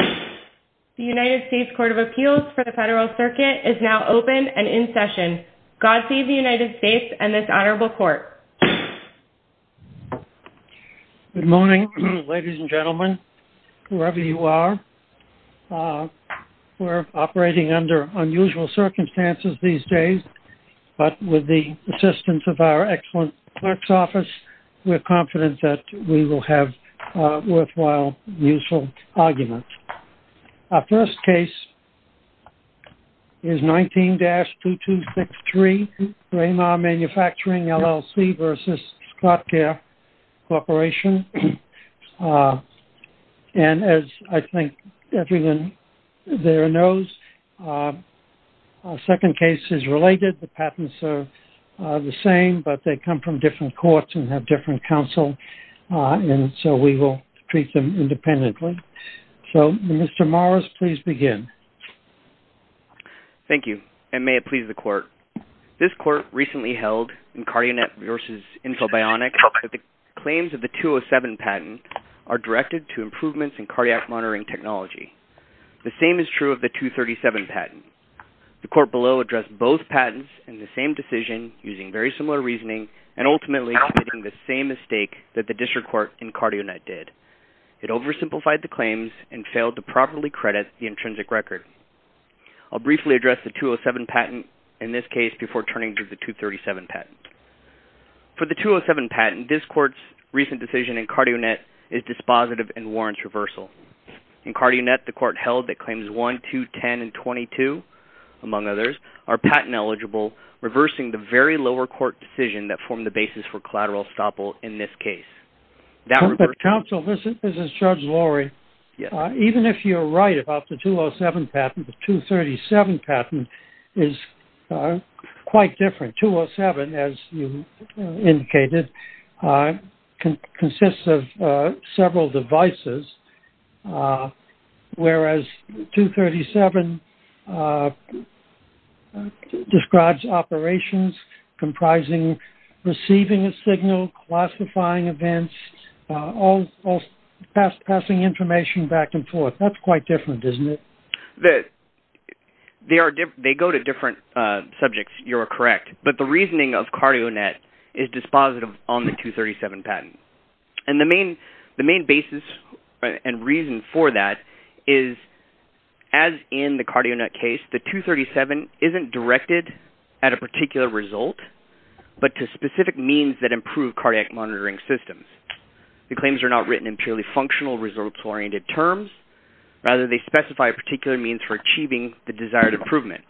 The United States Court of Appeals for the Federal Circuit is now open and in session. God save the United States and this Honorable Court. Good morning, ladies and gentlemen, whoever you are. We're operating under unusual circumstances these days, but with the assistance of our excellent clerk's office, we're confident that we will have a worthwhile, useful argument. Our first case is 19-2263, Braemar Manufacturing, LLC v. Scottcare Corporation. And as I think everyone there knows, our second case is related. The patents are the same, but they come from different courts and have different counsel, and so we will treat them independently. So, Mr. Morris, please begin. Thank you, and may it please the Court. This Court recently held in CardioNet v. Infobionics that the claims of the 207 patent are directed to improvements in cardiac monitoring technology. The same is true of the 237 patent. The Court below addressed both patents in the same decision using very similar reasoning and ultimately committing the same mistake that the District Court in CardioNet did. It oversimplified the claims and failed to properly credit the intrinsic record. I'll briefly address the 207 patent in this case before turning to the 237 patent. For the 207 patent, this Court's recent decision in CardioNet is dispositive and warrants reversal. In CardioNet, the Court held that claims 1, 2, 10, and 22, among others, are patent eligible, reversing the very lower court decision that formed the basis for collateral estoppel in this case. Counsel, this is Judge Lorry. Even if you're right about the 207 patent, the 237 patent is quite different. 207, as you indicated, consists of several devices, whereas 237 describes operations comprising receiving a signal, classifying events, all passing information back and forth. That's quite different, isn't it? They go to different subjects. You're correct. But the reasoning of CardioNet is dispositive on the 237 patent. The main basis and reason for that is, as in the CardioNet case, the 237 isn't directed at a particular result, but to specific means that improve cardiac monitoring systems. The claims are not written in purely functional results-oriented terms. Rather, they specify a particular means for achieving the desired improvement.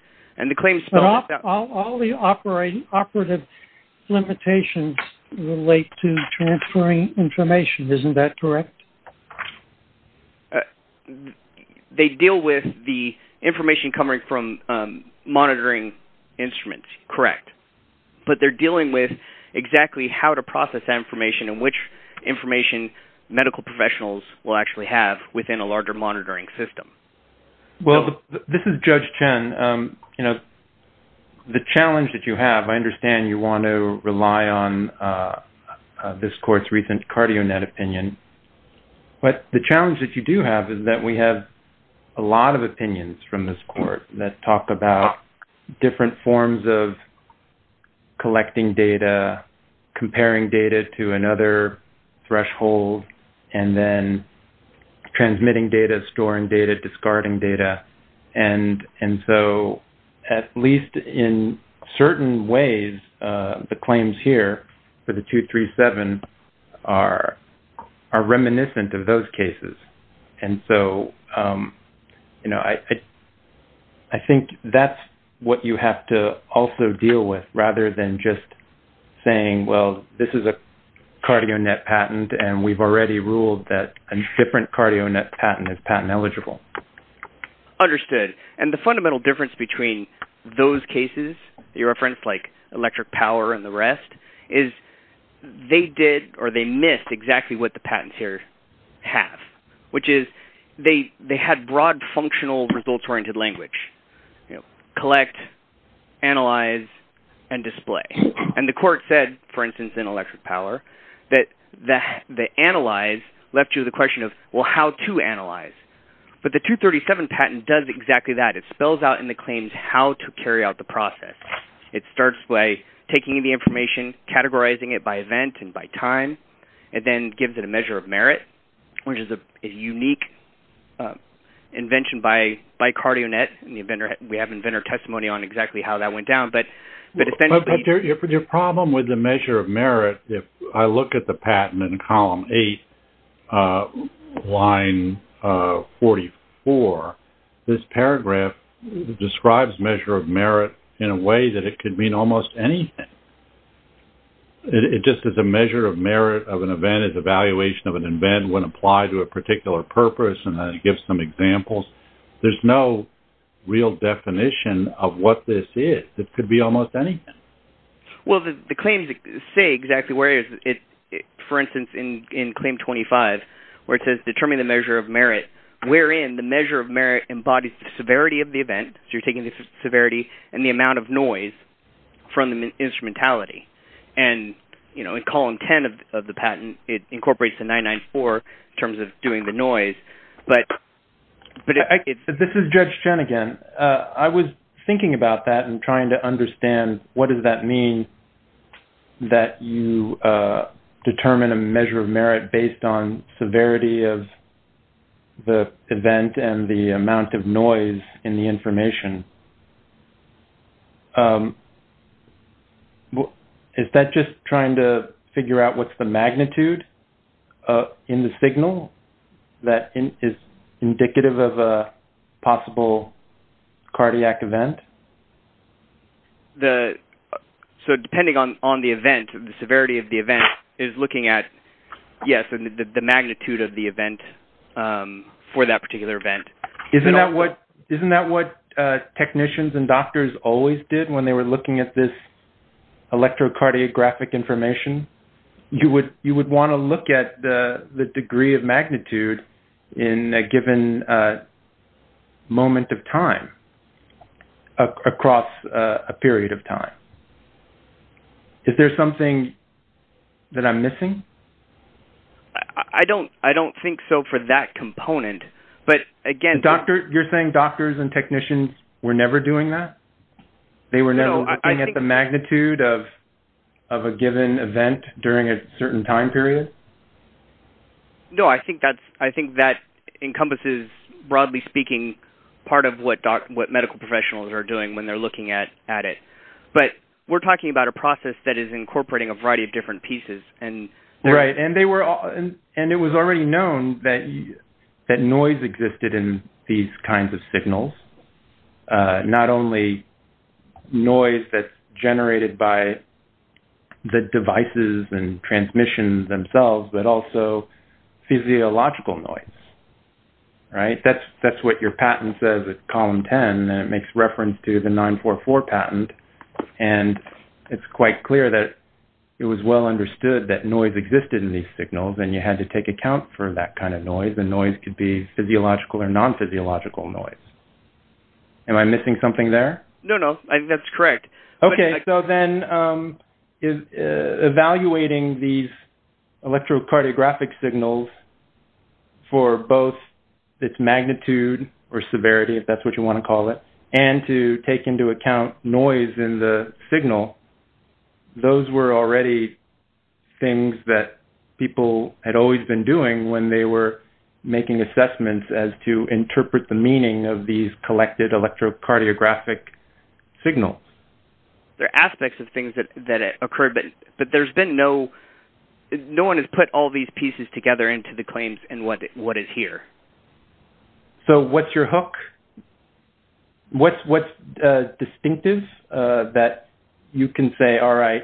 All the operative limitations relate to transferring information. Isn't that correct? They deal with the information coming from monitoring instruments. Correct. But they're dealing with exactly how to process that information and which information medical professionals will actually have within a larger monitoring system. This is Judge Chen. The challenge that you have, I understand you want to rely on this court's recent CardioNet opinion. But the challenge that you do have is that we have a lot of opinions from this court that talk about different forms of collecting data, comparing data to another threshold, and then transmitting data, storing data, discarding data. At least in certain ways, the claims here for the 237 are reminiscent of those cases. I think that's what you have to also deal with, rather than just saying, well, this is a CardioNet patent, and we've already ruled that a different CardioNet patent is patent eligible. Understood. And the fundamental difference between those cases that you referenced, like electric power and the rest, is they missed exactly what the patents here have, which is they had broad functional results-oriented language. Collect, analyze, and display. And the court said, for instance, in electric power, that the analyze left you the question of, well, how to analyze. But the 237 patent does exactly that. It spells out in the claims how to carry out the process. It starts by taking the information, categorizing it by event and by time, and then gives it a measure of merit, which is a unique invention by CardioNet. We have inventor testimony on exactly how that went down. But if then- But your problem with the line 44, this paragraph describes measure of merit in a way that it could mean almost anything. It just says a measure of merit of an event is evaluation of an event when applied to a particular purpose, and then it gives some examples. There's no real definition of what this is. It could be almost anything. Well, the claims say exactly where it is. For instance, in claim 25, where it says, determine the measure of merit, wherein the measure of merit embodies the severity of the event, so you're taking the severity and the amount of noise from the instrumentality. And in column 10 of the patent, it incorporates the 994 in terms of doing the noise. But it's- This is Judge Chen again. I was thinking about that trying to understand what does that mean that you determine a measure of merit based on severity of the event and the amount of noise in the information? Is that just trying to figure out what's the magnitude in the signal that is indicative of a cardiac event? So, depending on the event, the severity of the event is looking at, yes, the magnitude of the event for that particular event. Isn't that what technicians and doctors always did when they were looking at this electrocardiographic information? You would want to look at the degree of magnitude in a given moment of time, across a period of time. Is there something that I'm missing? I don't think so for that component. But again- You're saying doctors and technicians were never doing that? They were never looking at the magnitude of a given event during a certain time period? No. I think that encompasses, broadly speaking, part of what medical professionals are doing when they're looking at it. But we're talking about a process that is incorporating a variety of different pieces. Right. And it was already known that noise existed in these kinds of signals. And not only noise that's generated by the devices and transmissions themselves, but also physiological noise. Right. That's what your patent says at column 10. And it makes reference to the 944 patent. And it's quite clear that it was well understood that noise existed in these signals. And you had to take account for that kind of noise. And noise could be physiological or non-physiological noise. Am I missing something there? No, no. I think that's correct. Okay. So then, evaluating these electrocardiographic signals for both its magnitude or severity, if that's what you want to call it, and to take into account noise in the signal, those were already things that people had always been doing when they were making assessments as interpret the meaning of these collected electrocardiographic signals. There are aspects of things that occurred, but no one has put all these pieces together into the claims and what is here. So, what's your hook? What's distinctive that you can say, all right,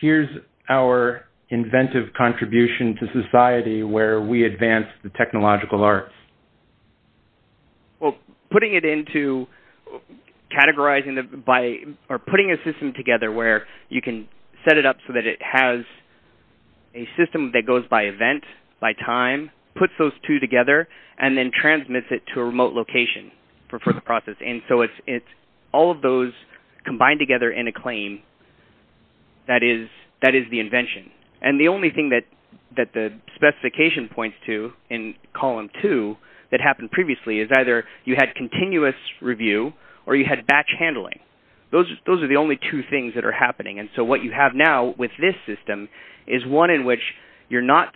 here's our inventive contribution to society where we advance the well, putting it into categorizing by or putting a system together where you can set it up so that it has a system that goes by event, by time, puts those two together, and then transmits it to a remote location for the process. And so, it's all of those combined together in a claim that is the invention. And the only thing that the specification points to in column two that happened previously is either you had continuous review or you had batch handling. Those are the only two things that are happening. And so, what you have now with this system is one in which you're not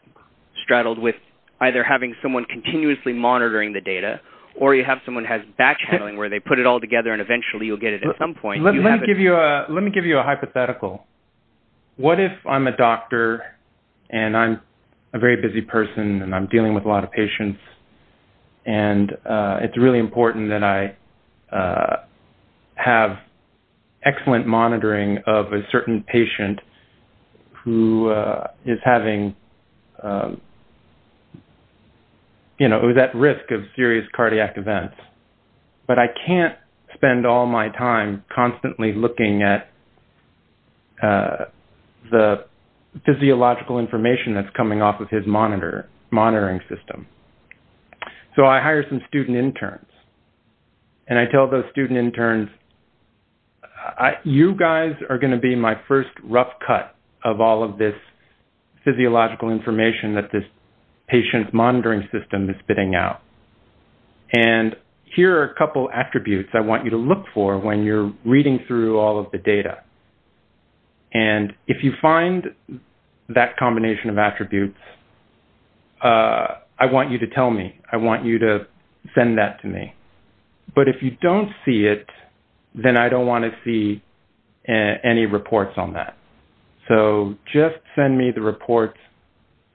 straddled with either having someone continuously monitoring the data or you have someone who has batch handling where they put it all together and eventually you'll get it at some point. Let me give you a hypothetical. What if I'm a doctor and I'm a very busy person and I'm dealing with a lot of patients and it's really important that I have excellent monitoring of a certain patient who is having, you know, who's at risk of serious cardiac events, but I can't spend all my time constantly looking at the physiological information that's coming off of his monitoring system. So, I hire some student interns and I tell those student interns, you guys are going to be my first rough cut of all of this physiological information that this patient's monitoring system is spitting out. And here are a couple attributes I want you to look for when you're reading through all of the data. And if you find that combination of attributes, I want you to tell me. I want you to send that to me. But if you don't see it, then I don't want to see any reports on that. So, just send me the report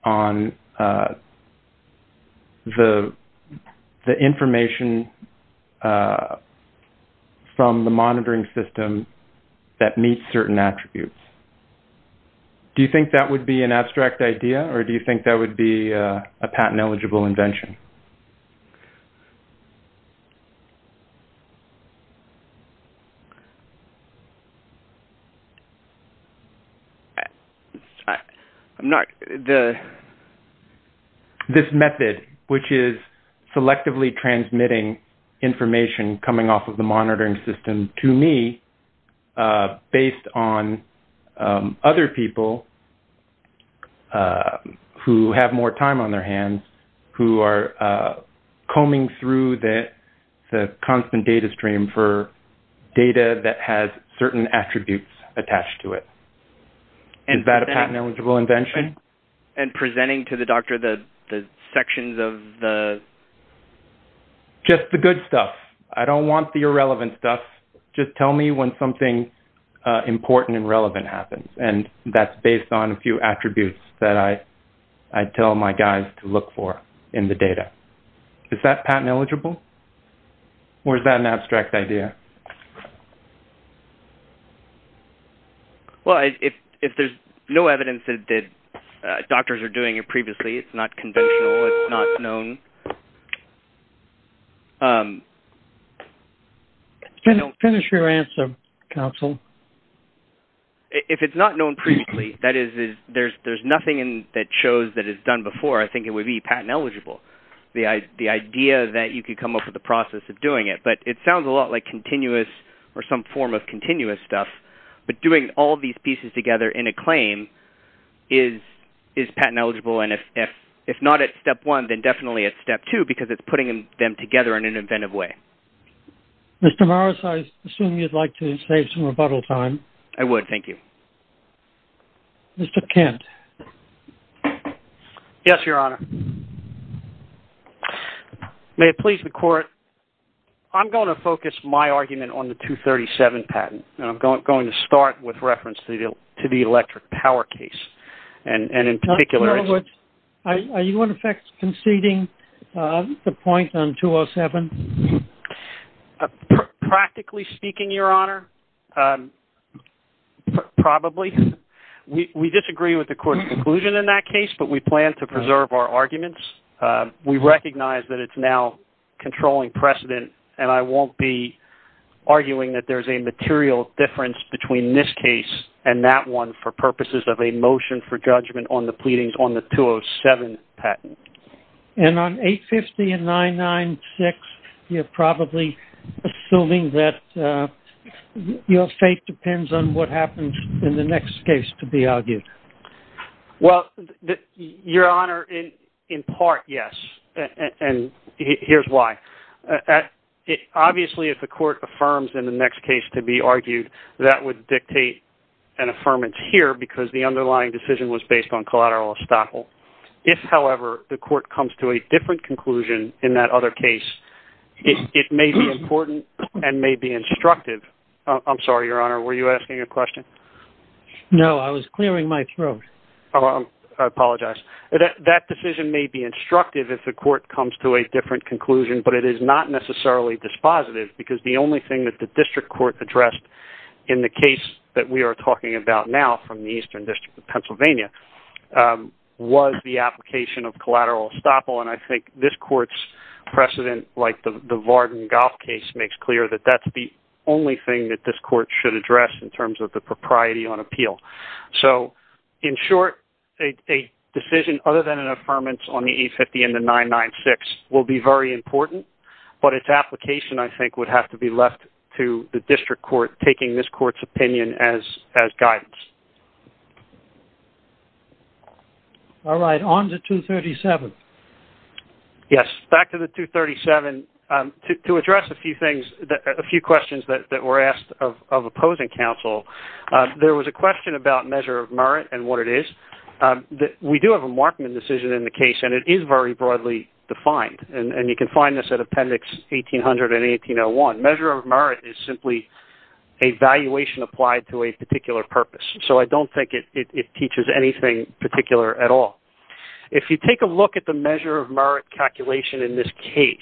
on the information from the monitoring system that meets certain attributes. Do you think that would be an abstract idea or do you think that would be a patent-eligible invention? I'm not… This method, which is selectively transmitting information coming off of the monitoring system to me based on other people who have more time on their hands, who are combing through the constant data stream for data that has certain attributes attached to it. Is that a patent-eligible invention? And presenting to the doctor the sections of the… Just the good stuff. I don't want the irrelevant stuff. Just tell me when something important and relevant happens. And that's based on a few attributes that I tell my guys to look for in the data. Is that patent-eligible or is that an abstract idea? Well, if there's no evidence that doctors are doing it previously, it's not conventional, it's not known. Finish your answer, counsel. If it's not known previously, that is, there's nothing that shows that it's done before, I think it would be patent-eligible. The idea that you could come up with a process of doing it. But it sounds a lot like continuous or some form of continuous stuff. But doing all these pieces together in a claim is patent-eligible. And if not at step one, then definitely at step two, because it's putting them together in an inventive way. Mr. Morris, I assume you'd like to save some rebuttal time. I would. Thank you. Mr. Kent. Yes, Your Honor. May it please the court, I'm going to focus my argument on the 237 patent. And I'm going to start with reference to the electric power case. And in particular... Are you in effect conceding the point on 207? Practically speaking, Your Honor, probably. We disagree with the court's conclusion in that case, but we plan to preserve our arguments. We recognize that it's now controlling precedent, and I won't be arguing that there's a material difference between this case and that one for purposes of a motion for judgment on the pleadings on the 207 patent. And on 850 and 996, you're probably assuming that your fate depends on what happens in the next case to be argued. Well, Your Honor, in part, yes. And here's why. Obviously, if the court affirms in the next case to be argued, that would dictate an affirmance here because the underlying decision was based on collateral estoppel. If, however, the court comes to a different conclusion in that other case, it may be important and may be instructive. I'm sorry, Your Honor, were you asking a question? No, I was clearing my throat. I apologize. That decision may be instructive if the court comes to a different conclusion, but it is not necessarily dispositive because the only thing that the district court addressed in the case that we are talking about now from the Eastern District of Pennsylvania was the application of collateral estoppel, and I think this court's precedent, like the Varden-Goff case, makes clear that that's the only thing that this court should address in terms of the propriety on appeal. So, in short, a decision other than an affirmance on the 850 and the 996 will be very important, but its application, I think, would have to be left to the district court taking this court's opinion as guidance. All right. On to 237. Yes. Back to the 237. To address a few questions that were asked of opposing counsel, there was a question about measure of merit and what it is. We do have a Markman decision in the case, and it is very broadly defined, and you can find this at Appendix 1800 and 1801. Measure of merit is simply a valuation applied to a particular purpose, so I don't think it teaches anything particular at all. If you take a look at the measure of merit calculation in this case,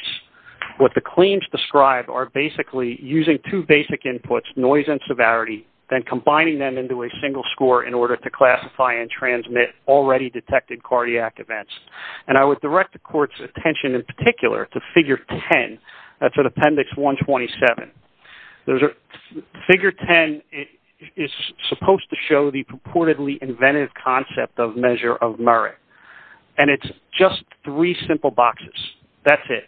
what the claims describe are basically using two basic inputs, noise and severity, then combining them into a single score in order to classify and transmit already-detected cardiac events, and I would direct the court's attention in particular to Figure 10. That's in Appendix 127. Figure 10 is supposed to show the purportedly inventive concept of measure of merit, and it's just three simple boxes. That's it.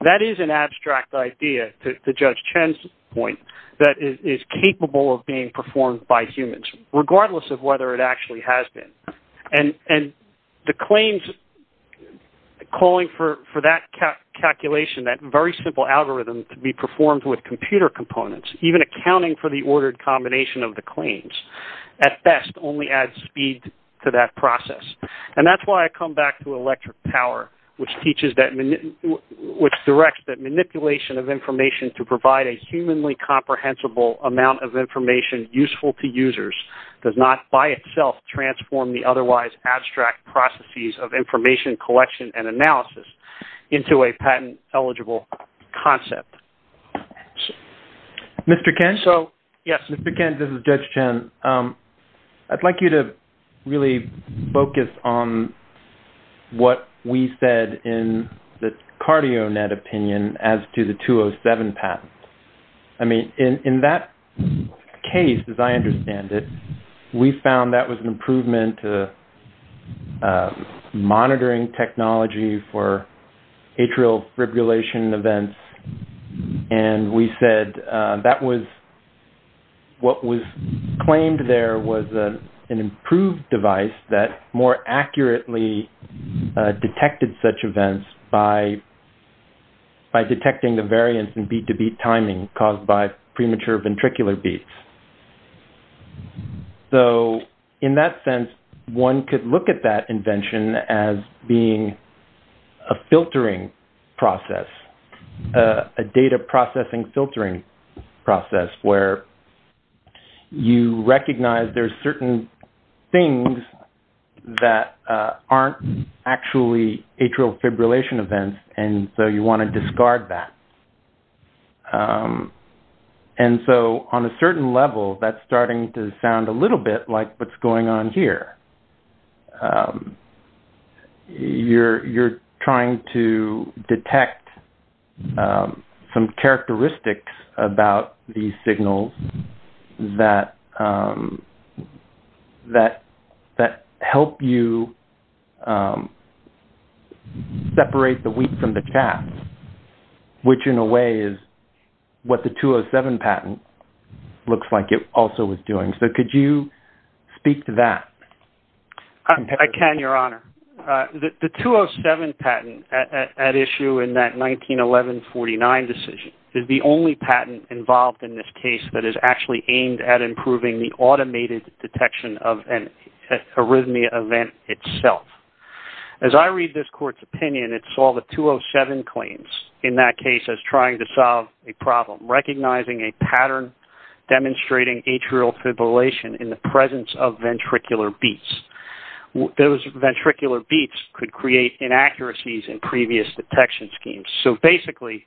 That is an abstract idea, to Judge Chen's point, that is capable of being performed by humans, regardless of whether it actually has been. And the claims calling for that calculation, that very simple algorithm to be performed with computer components, even accounting for the ordered combination of the claims, at best only adds speed to that process. And that's why I come back to electric power, which directs that manipulation of information to provide a humanly comprehensible amount of information useful to users does not by itself transform the otherwise abstract processes of action. Mr. Kent? So, yes. Mr. Kent, this is Judge Chen. I'd like you to really focus on what we said in the CardioNet opinion as to the 207 patent. I mean, in that case, as I understand it, we found that was an improvement to monitoring technology for atrial fibrillation events, and we said that was what was claimed there was an improved device that more accurately detected such events by detecting the variance in beat-to-beat timing caused by premature ventricular beats. So, in that sense, one could look at that invention as being a filtering process, a data processing filtering process where you recognize there's certain things that aren't actually atrial fibrillation events, and so you want to discard that. And so, on a certain level, that's starting to sound a little bit like what's going on here. You're trying to detect some characteristics about these signals that help you separate the wheat from the chaff, which in a way is what the 207 patent looks like it also is doing. So, could you speak to that? I can, Your Honor. The 207 patent at issue in that 1911-49 decision is the only patent involved in this case that is actually aimed at improving the automated detection of an arrhythmia event itself. As I read this court's opinion, it saw the 207 claims in that case as trying to solve a problem, recognizing a pattern demonstrating atrial fibrillation in the presence of ventricular beats. Those ventricular beats could create inaccuracies in previous detection schemes. So, basically,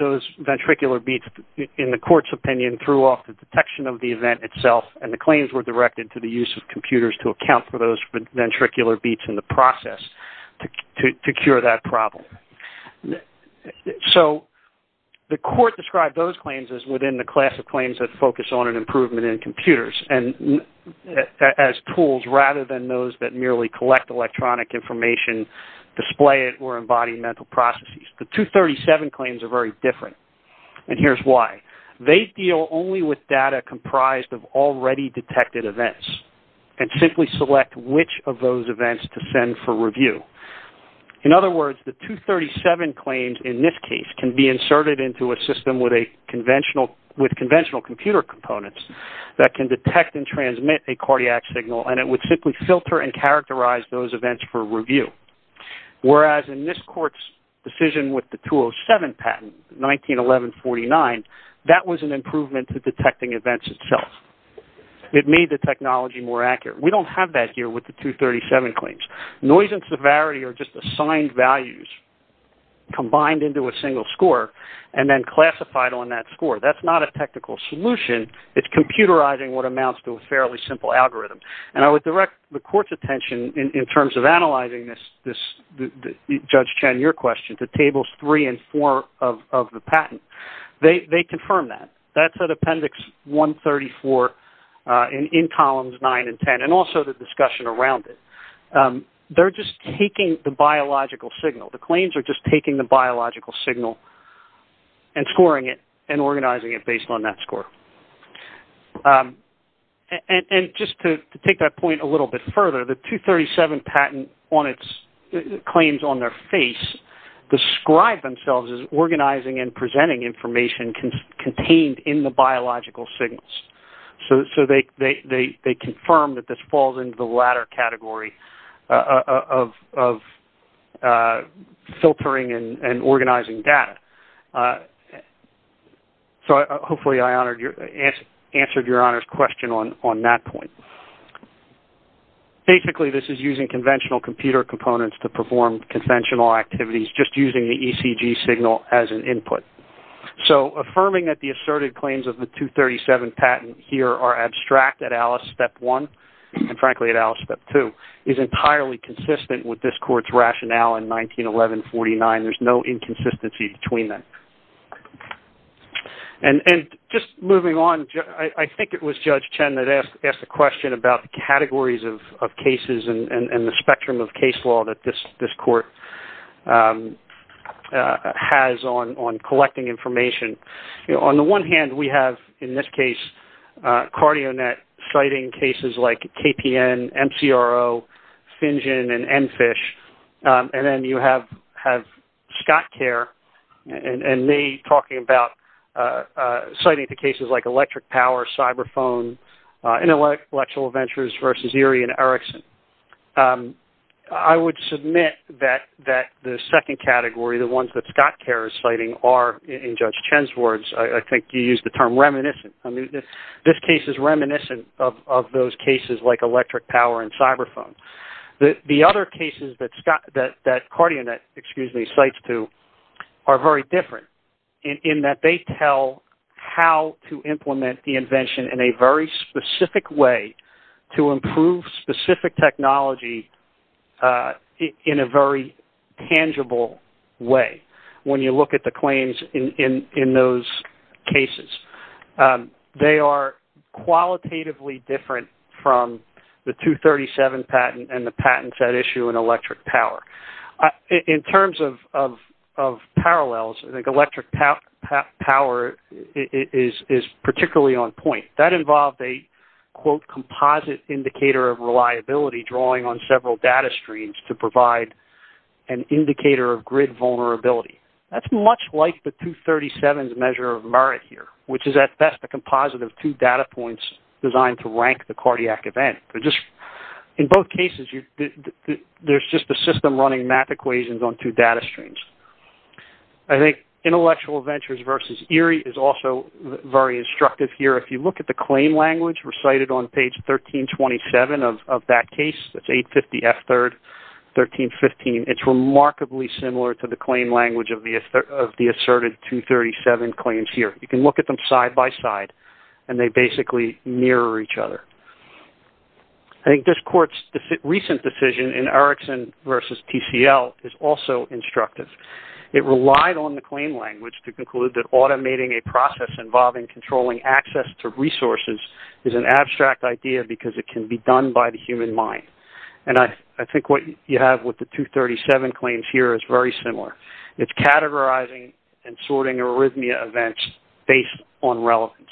those ventricular beats, in the court's opinion, threw off the detection of the event itself, and the claims were directed to the use of computers to account for those ventricular beats in the process to cure that problem. So, the court described those claims as within the class of claims that focus on an improvement in computers as tools rather than those that merely collect electronic information, display it, or embody mental processes. The 237 claims are very different, and here's why. They deal only with data comprised of already detected events and simply select which of those events to send for review. In other words, the 237 claims in this case can be inserted into a system with conventional computer components that can detect and transmit a cardiac signal, and it would simply filter and characterize those events for review, whereas in this court's decision with the 207 patent, 1911-49, that was an improvement to detecting events itself. It made the technology more accurate. We don't have that here with the 237 claims. Noise and severity are just assigned values combined into a single score and then classified on that score. That's not a technical solution. It's computerizing what amounts to a fairly simple algorithm, and I would direct the court's attention in terms of analyzing this, Judge Chen, to Tables 3 and 4 of the patent. They confirm that. That's at Appendix 134 in Columns 9 and 10, and also the discussion around it. They're just taking the biological signal. The claims are just taking the biological signal and scoring it and organizing it based on that score. Just to take that point a little bit further, the 237 patent claims on their face describe themselves as organizing and presenting information contained in the biological signals, so they confirm that this falls into the latter category of filtering and organizing data. Hopefully, I answered Your Honor's question on that point. Basically, this is using conventional computer components to perform conventional activities, just using the ECG signal as an input. Affirming that the asserted claims of the 237 patent here are abstract at Alice Step 1 and, frankly, at Alice Step 2 is entirely consistent with this court's rationale in 1911-49. There's no inconsistency between them. Just moving on, I think it was Judge Chen that asked a question about the categories of cases and the spectrum of case law that this court has on collecting information. On the one hand, we have, in this case, CardioNet citing cases like KPN, MCRO, FinGen, and MFISH. Then you have SCOTCARE and they talking about citing the cases like electric power, cyber phone, intellectual ventures versus Erie and Erickson. I would submit that the second category, the ones that SCOTCARE is citing are, in Judge Chen's words, I think you used the term reminiscent. This case is reminiscent of those cases like electric power and cyber phone. The other cases that CardioNet, excuse me, cites to are very different in that they tell how to implement the invention in a very specific way to improve specific technology in a very tangible way. When you look at the claims in those cases, they are qualitatively from the 237 patent and the patents that issue in electric power. In terms of parallels, electric power is particularly on point. That involved a composite indicator of reliability drawing on several data streams to provide an indicator of grid vulnerability. That's much like the 237 measure of merit here, which is at best a composite of two data points designed to rank cardiac event. In both cases, there's just a system running math equations on two data streams. I think intellectual ventures versus Erie is also very instructive here. If you look at the claim language recited on page 1327 of that case, that's 850F3, 1315, it's remarkably similar to the claim language of the asserted 237 claims here. You can look at them side by side and they basically mirror each other. I think this court's recent decision in Erickson versus TCL is also instructive. It relied on the claim language to conclude that automating a process involving controlling access to resources is an abstract idea because it can be done by the human mind. I think what you have with the 237 claims here is very similar. It's categorizing and sorting arrhythmia events based on relevance.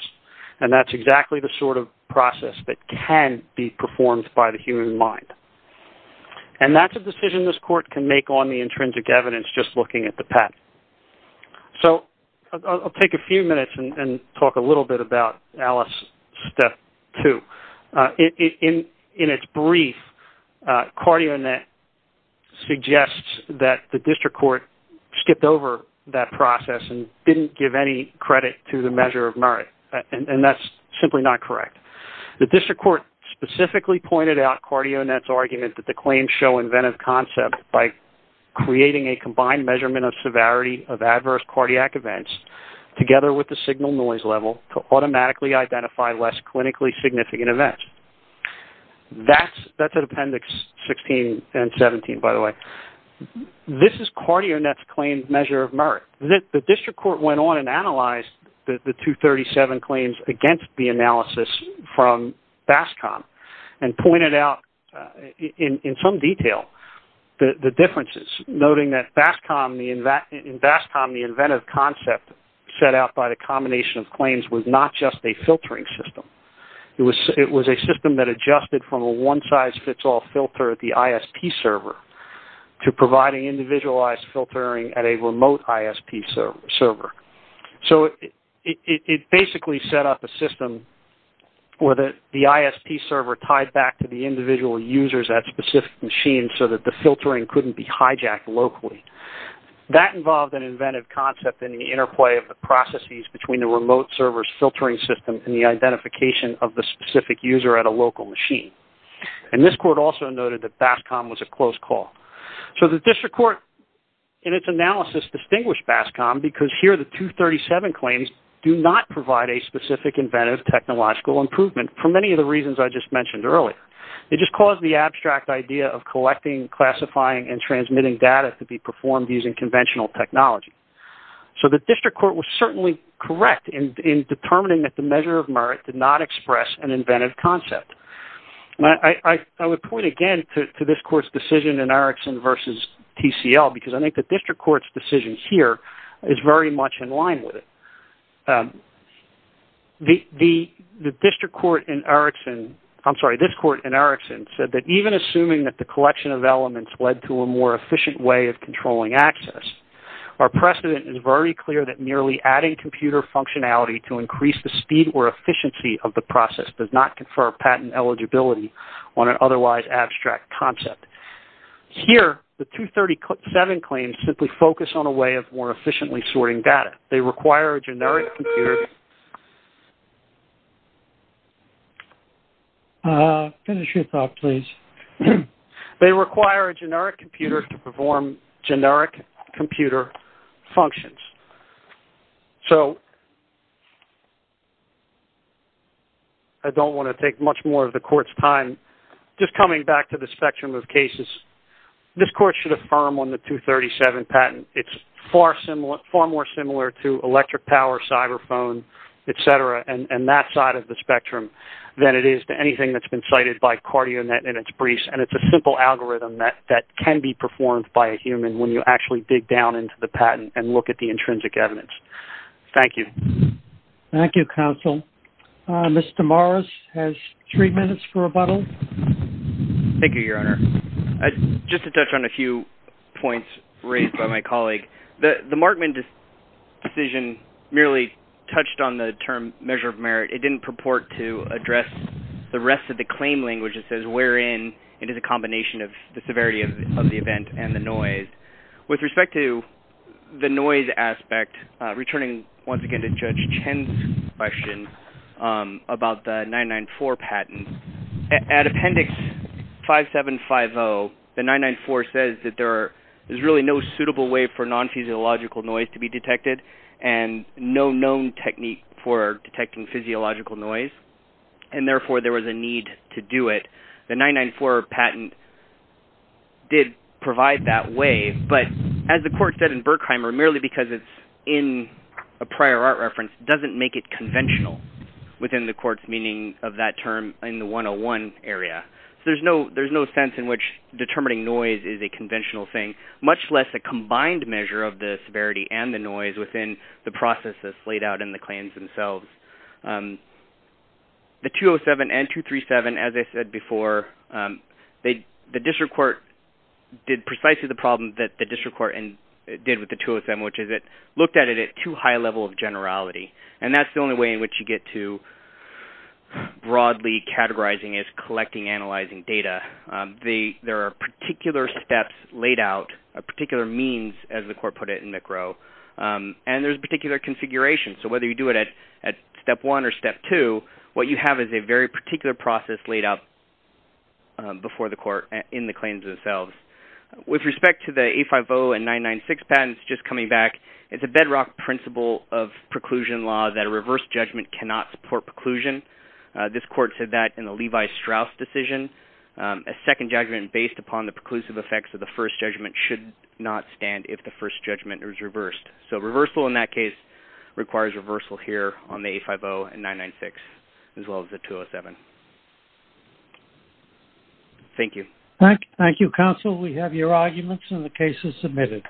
That's exactly the sort of process that can be performed by the human mind. That's a decision this court can make on the intrinsic evidence just looking at the pattern. I'll take a few minutes and talk a little bit about Alice step two. In its brief, CardioNet suggests that the district court skipped over that process and didn't give any credit to the measure of merit. That's simply not correct. The district court specifically pointed out CardioNet's argument that the claims show inventive concept by creating a combined measurement of severity of adverse cardiac events together with the signal noise level to automatically identify less clinically significant events. That's an appendix 16 and 17, by the way. This is CardioNet's claim measure of merit. The district court went on and analyzed the 237 claims against the analysis from BASCOM and pointed out in some detail the differences, noting that in BASCOM, the inventive concept set out by the combination of claims was not just a filtering system. It was a system that adjusted from a one-size-fits-all filter at the ISP server to providing individualized filtering at a remote ISP server. It basically set up a system where the ISP server tied back to the individual users at specific machines so that the filtering couldn't be hijacked locally. That involved an inventive concept in the interplay of processes between the remote server's filtering system and the identification of the specific user at a local machine. This court also noted that BASCOM was a close call. The district court in its analysis distinguished BASCOM because here the 237 claims do not provide a specific inventive technological improvement for many of the reasons I just mentioned earlier. It just caused the abstract idea of collecting, classifying, and transmitting data to be performed using conventional technology. So the district court was certainly correct in determining that the measure of merit did not express an inventive concept. I would point again to this court's decision in Erikson versus TCL because I think the district court's decision here is very much in line with it. The district court in Erikson, I'm sorry, this court in Erikson said that even assuming that collection of elements led to a more efficient way of controlling access. Our precedent is very clear that merely adding computer functionality to increase the speed or efficiency of the process does not confer patent eligibility on an otherwise abstract concept. Here, the 237 claims simply focus on a way of more efficiently sorting data. They require a generic computer. Finish your thought, please. They require a generic computer to perform generic computer functions. So I don't want to take much more of the court's time. Just coming back to the spectrum of cases, this court should affirm on the 237 patent. It's far more similar to electric power, cyber phone, etc., and that side of the spectrum than it is to anything that's been cited by CardioNet and its briefs, and it's a simple algorithm that can be performed by a human when you actually dig down into the patent and look at the intrinsic evidence. Thank you. Thank you, counsel. Mr. Morris has three minutes for rebuttal. Thank you, Your Honor. Just to touch on a few points raised by my colleague. The Markman decision merely touched on the term measure of merit. It didn't purport to address the rest of the claim language that says wherein it is a combination of the severity of the event and the noise. With respect to the noise aspect, returning once again to Judge Chen's question about the 994 patent, at Appendix 5750, the 994 says that there is really no suitable way for non-physiological noise to be detected and no known technique for detecting physiological noise, and therefore there was a need to do it. The 994 patent did provide that way, but as the court said in Berkheimer, merely because it's in a prior art reference doesn't make it conventional within the court's meaning of that term in the 101 area. So there's no sense in which and the noise within the processes laid out in the claims themselves. The 207 and 237, as I said before, the district court did precisely the problem that the district court did with the 207, which is it looked at it at too high a level of generality. And that's the only way in which you get to broadly categorizing is collecting, analyzing data. There are particular steps laid out, a particular means, as the court put it in McRow, and there's a particular configuration. So whether you do it at step one or step two, what you have is a very particular process laid out before the court in the claims themselves. With respect to the 850 and 996 patents, just coming back, it's a bedrock principle of preclusion law that a reverse judgment cannot support preclusion. This court said that in the second judgment based upon the preclusive effects of the first judgment should not stand if the first judgment is reversed. So reversal in that case requires reversal here on the 850 and 996, as well as the 207. Thank you. Thank you, counsel. We have your arguments and the cases submitted.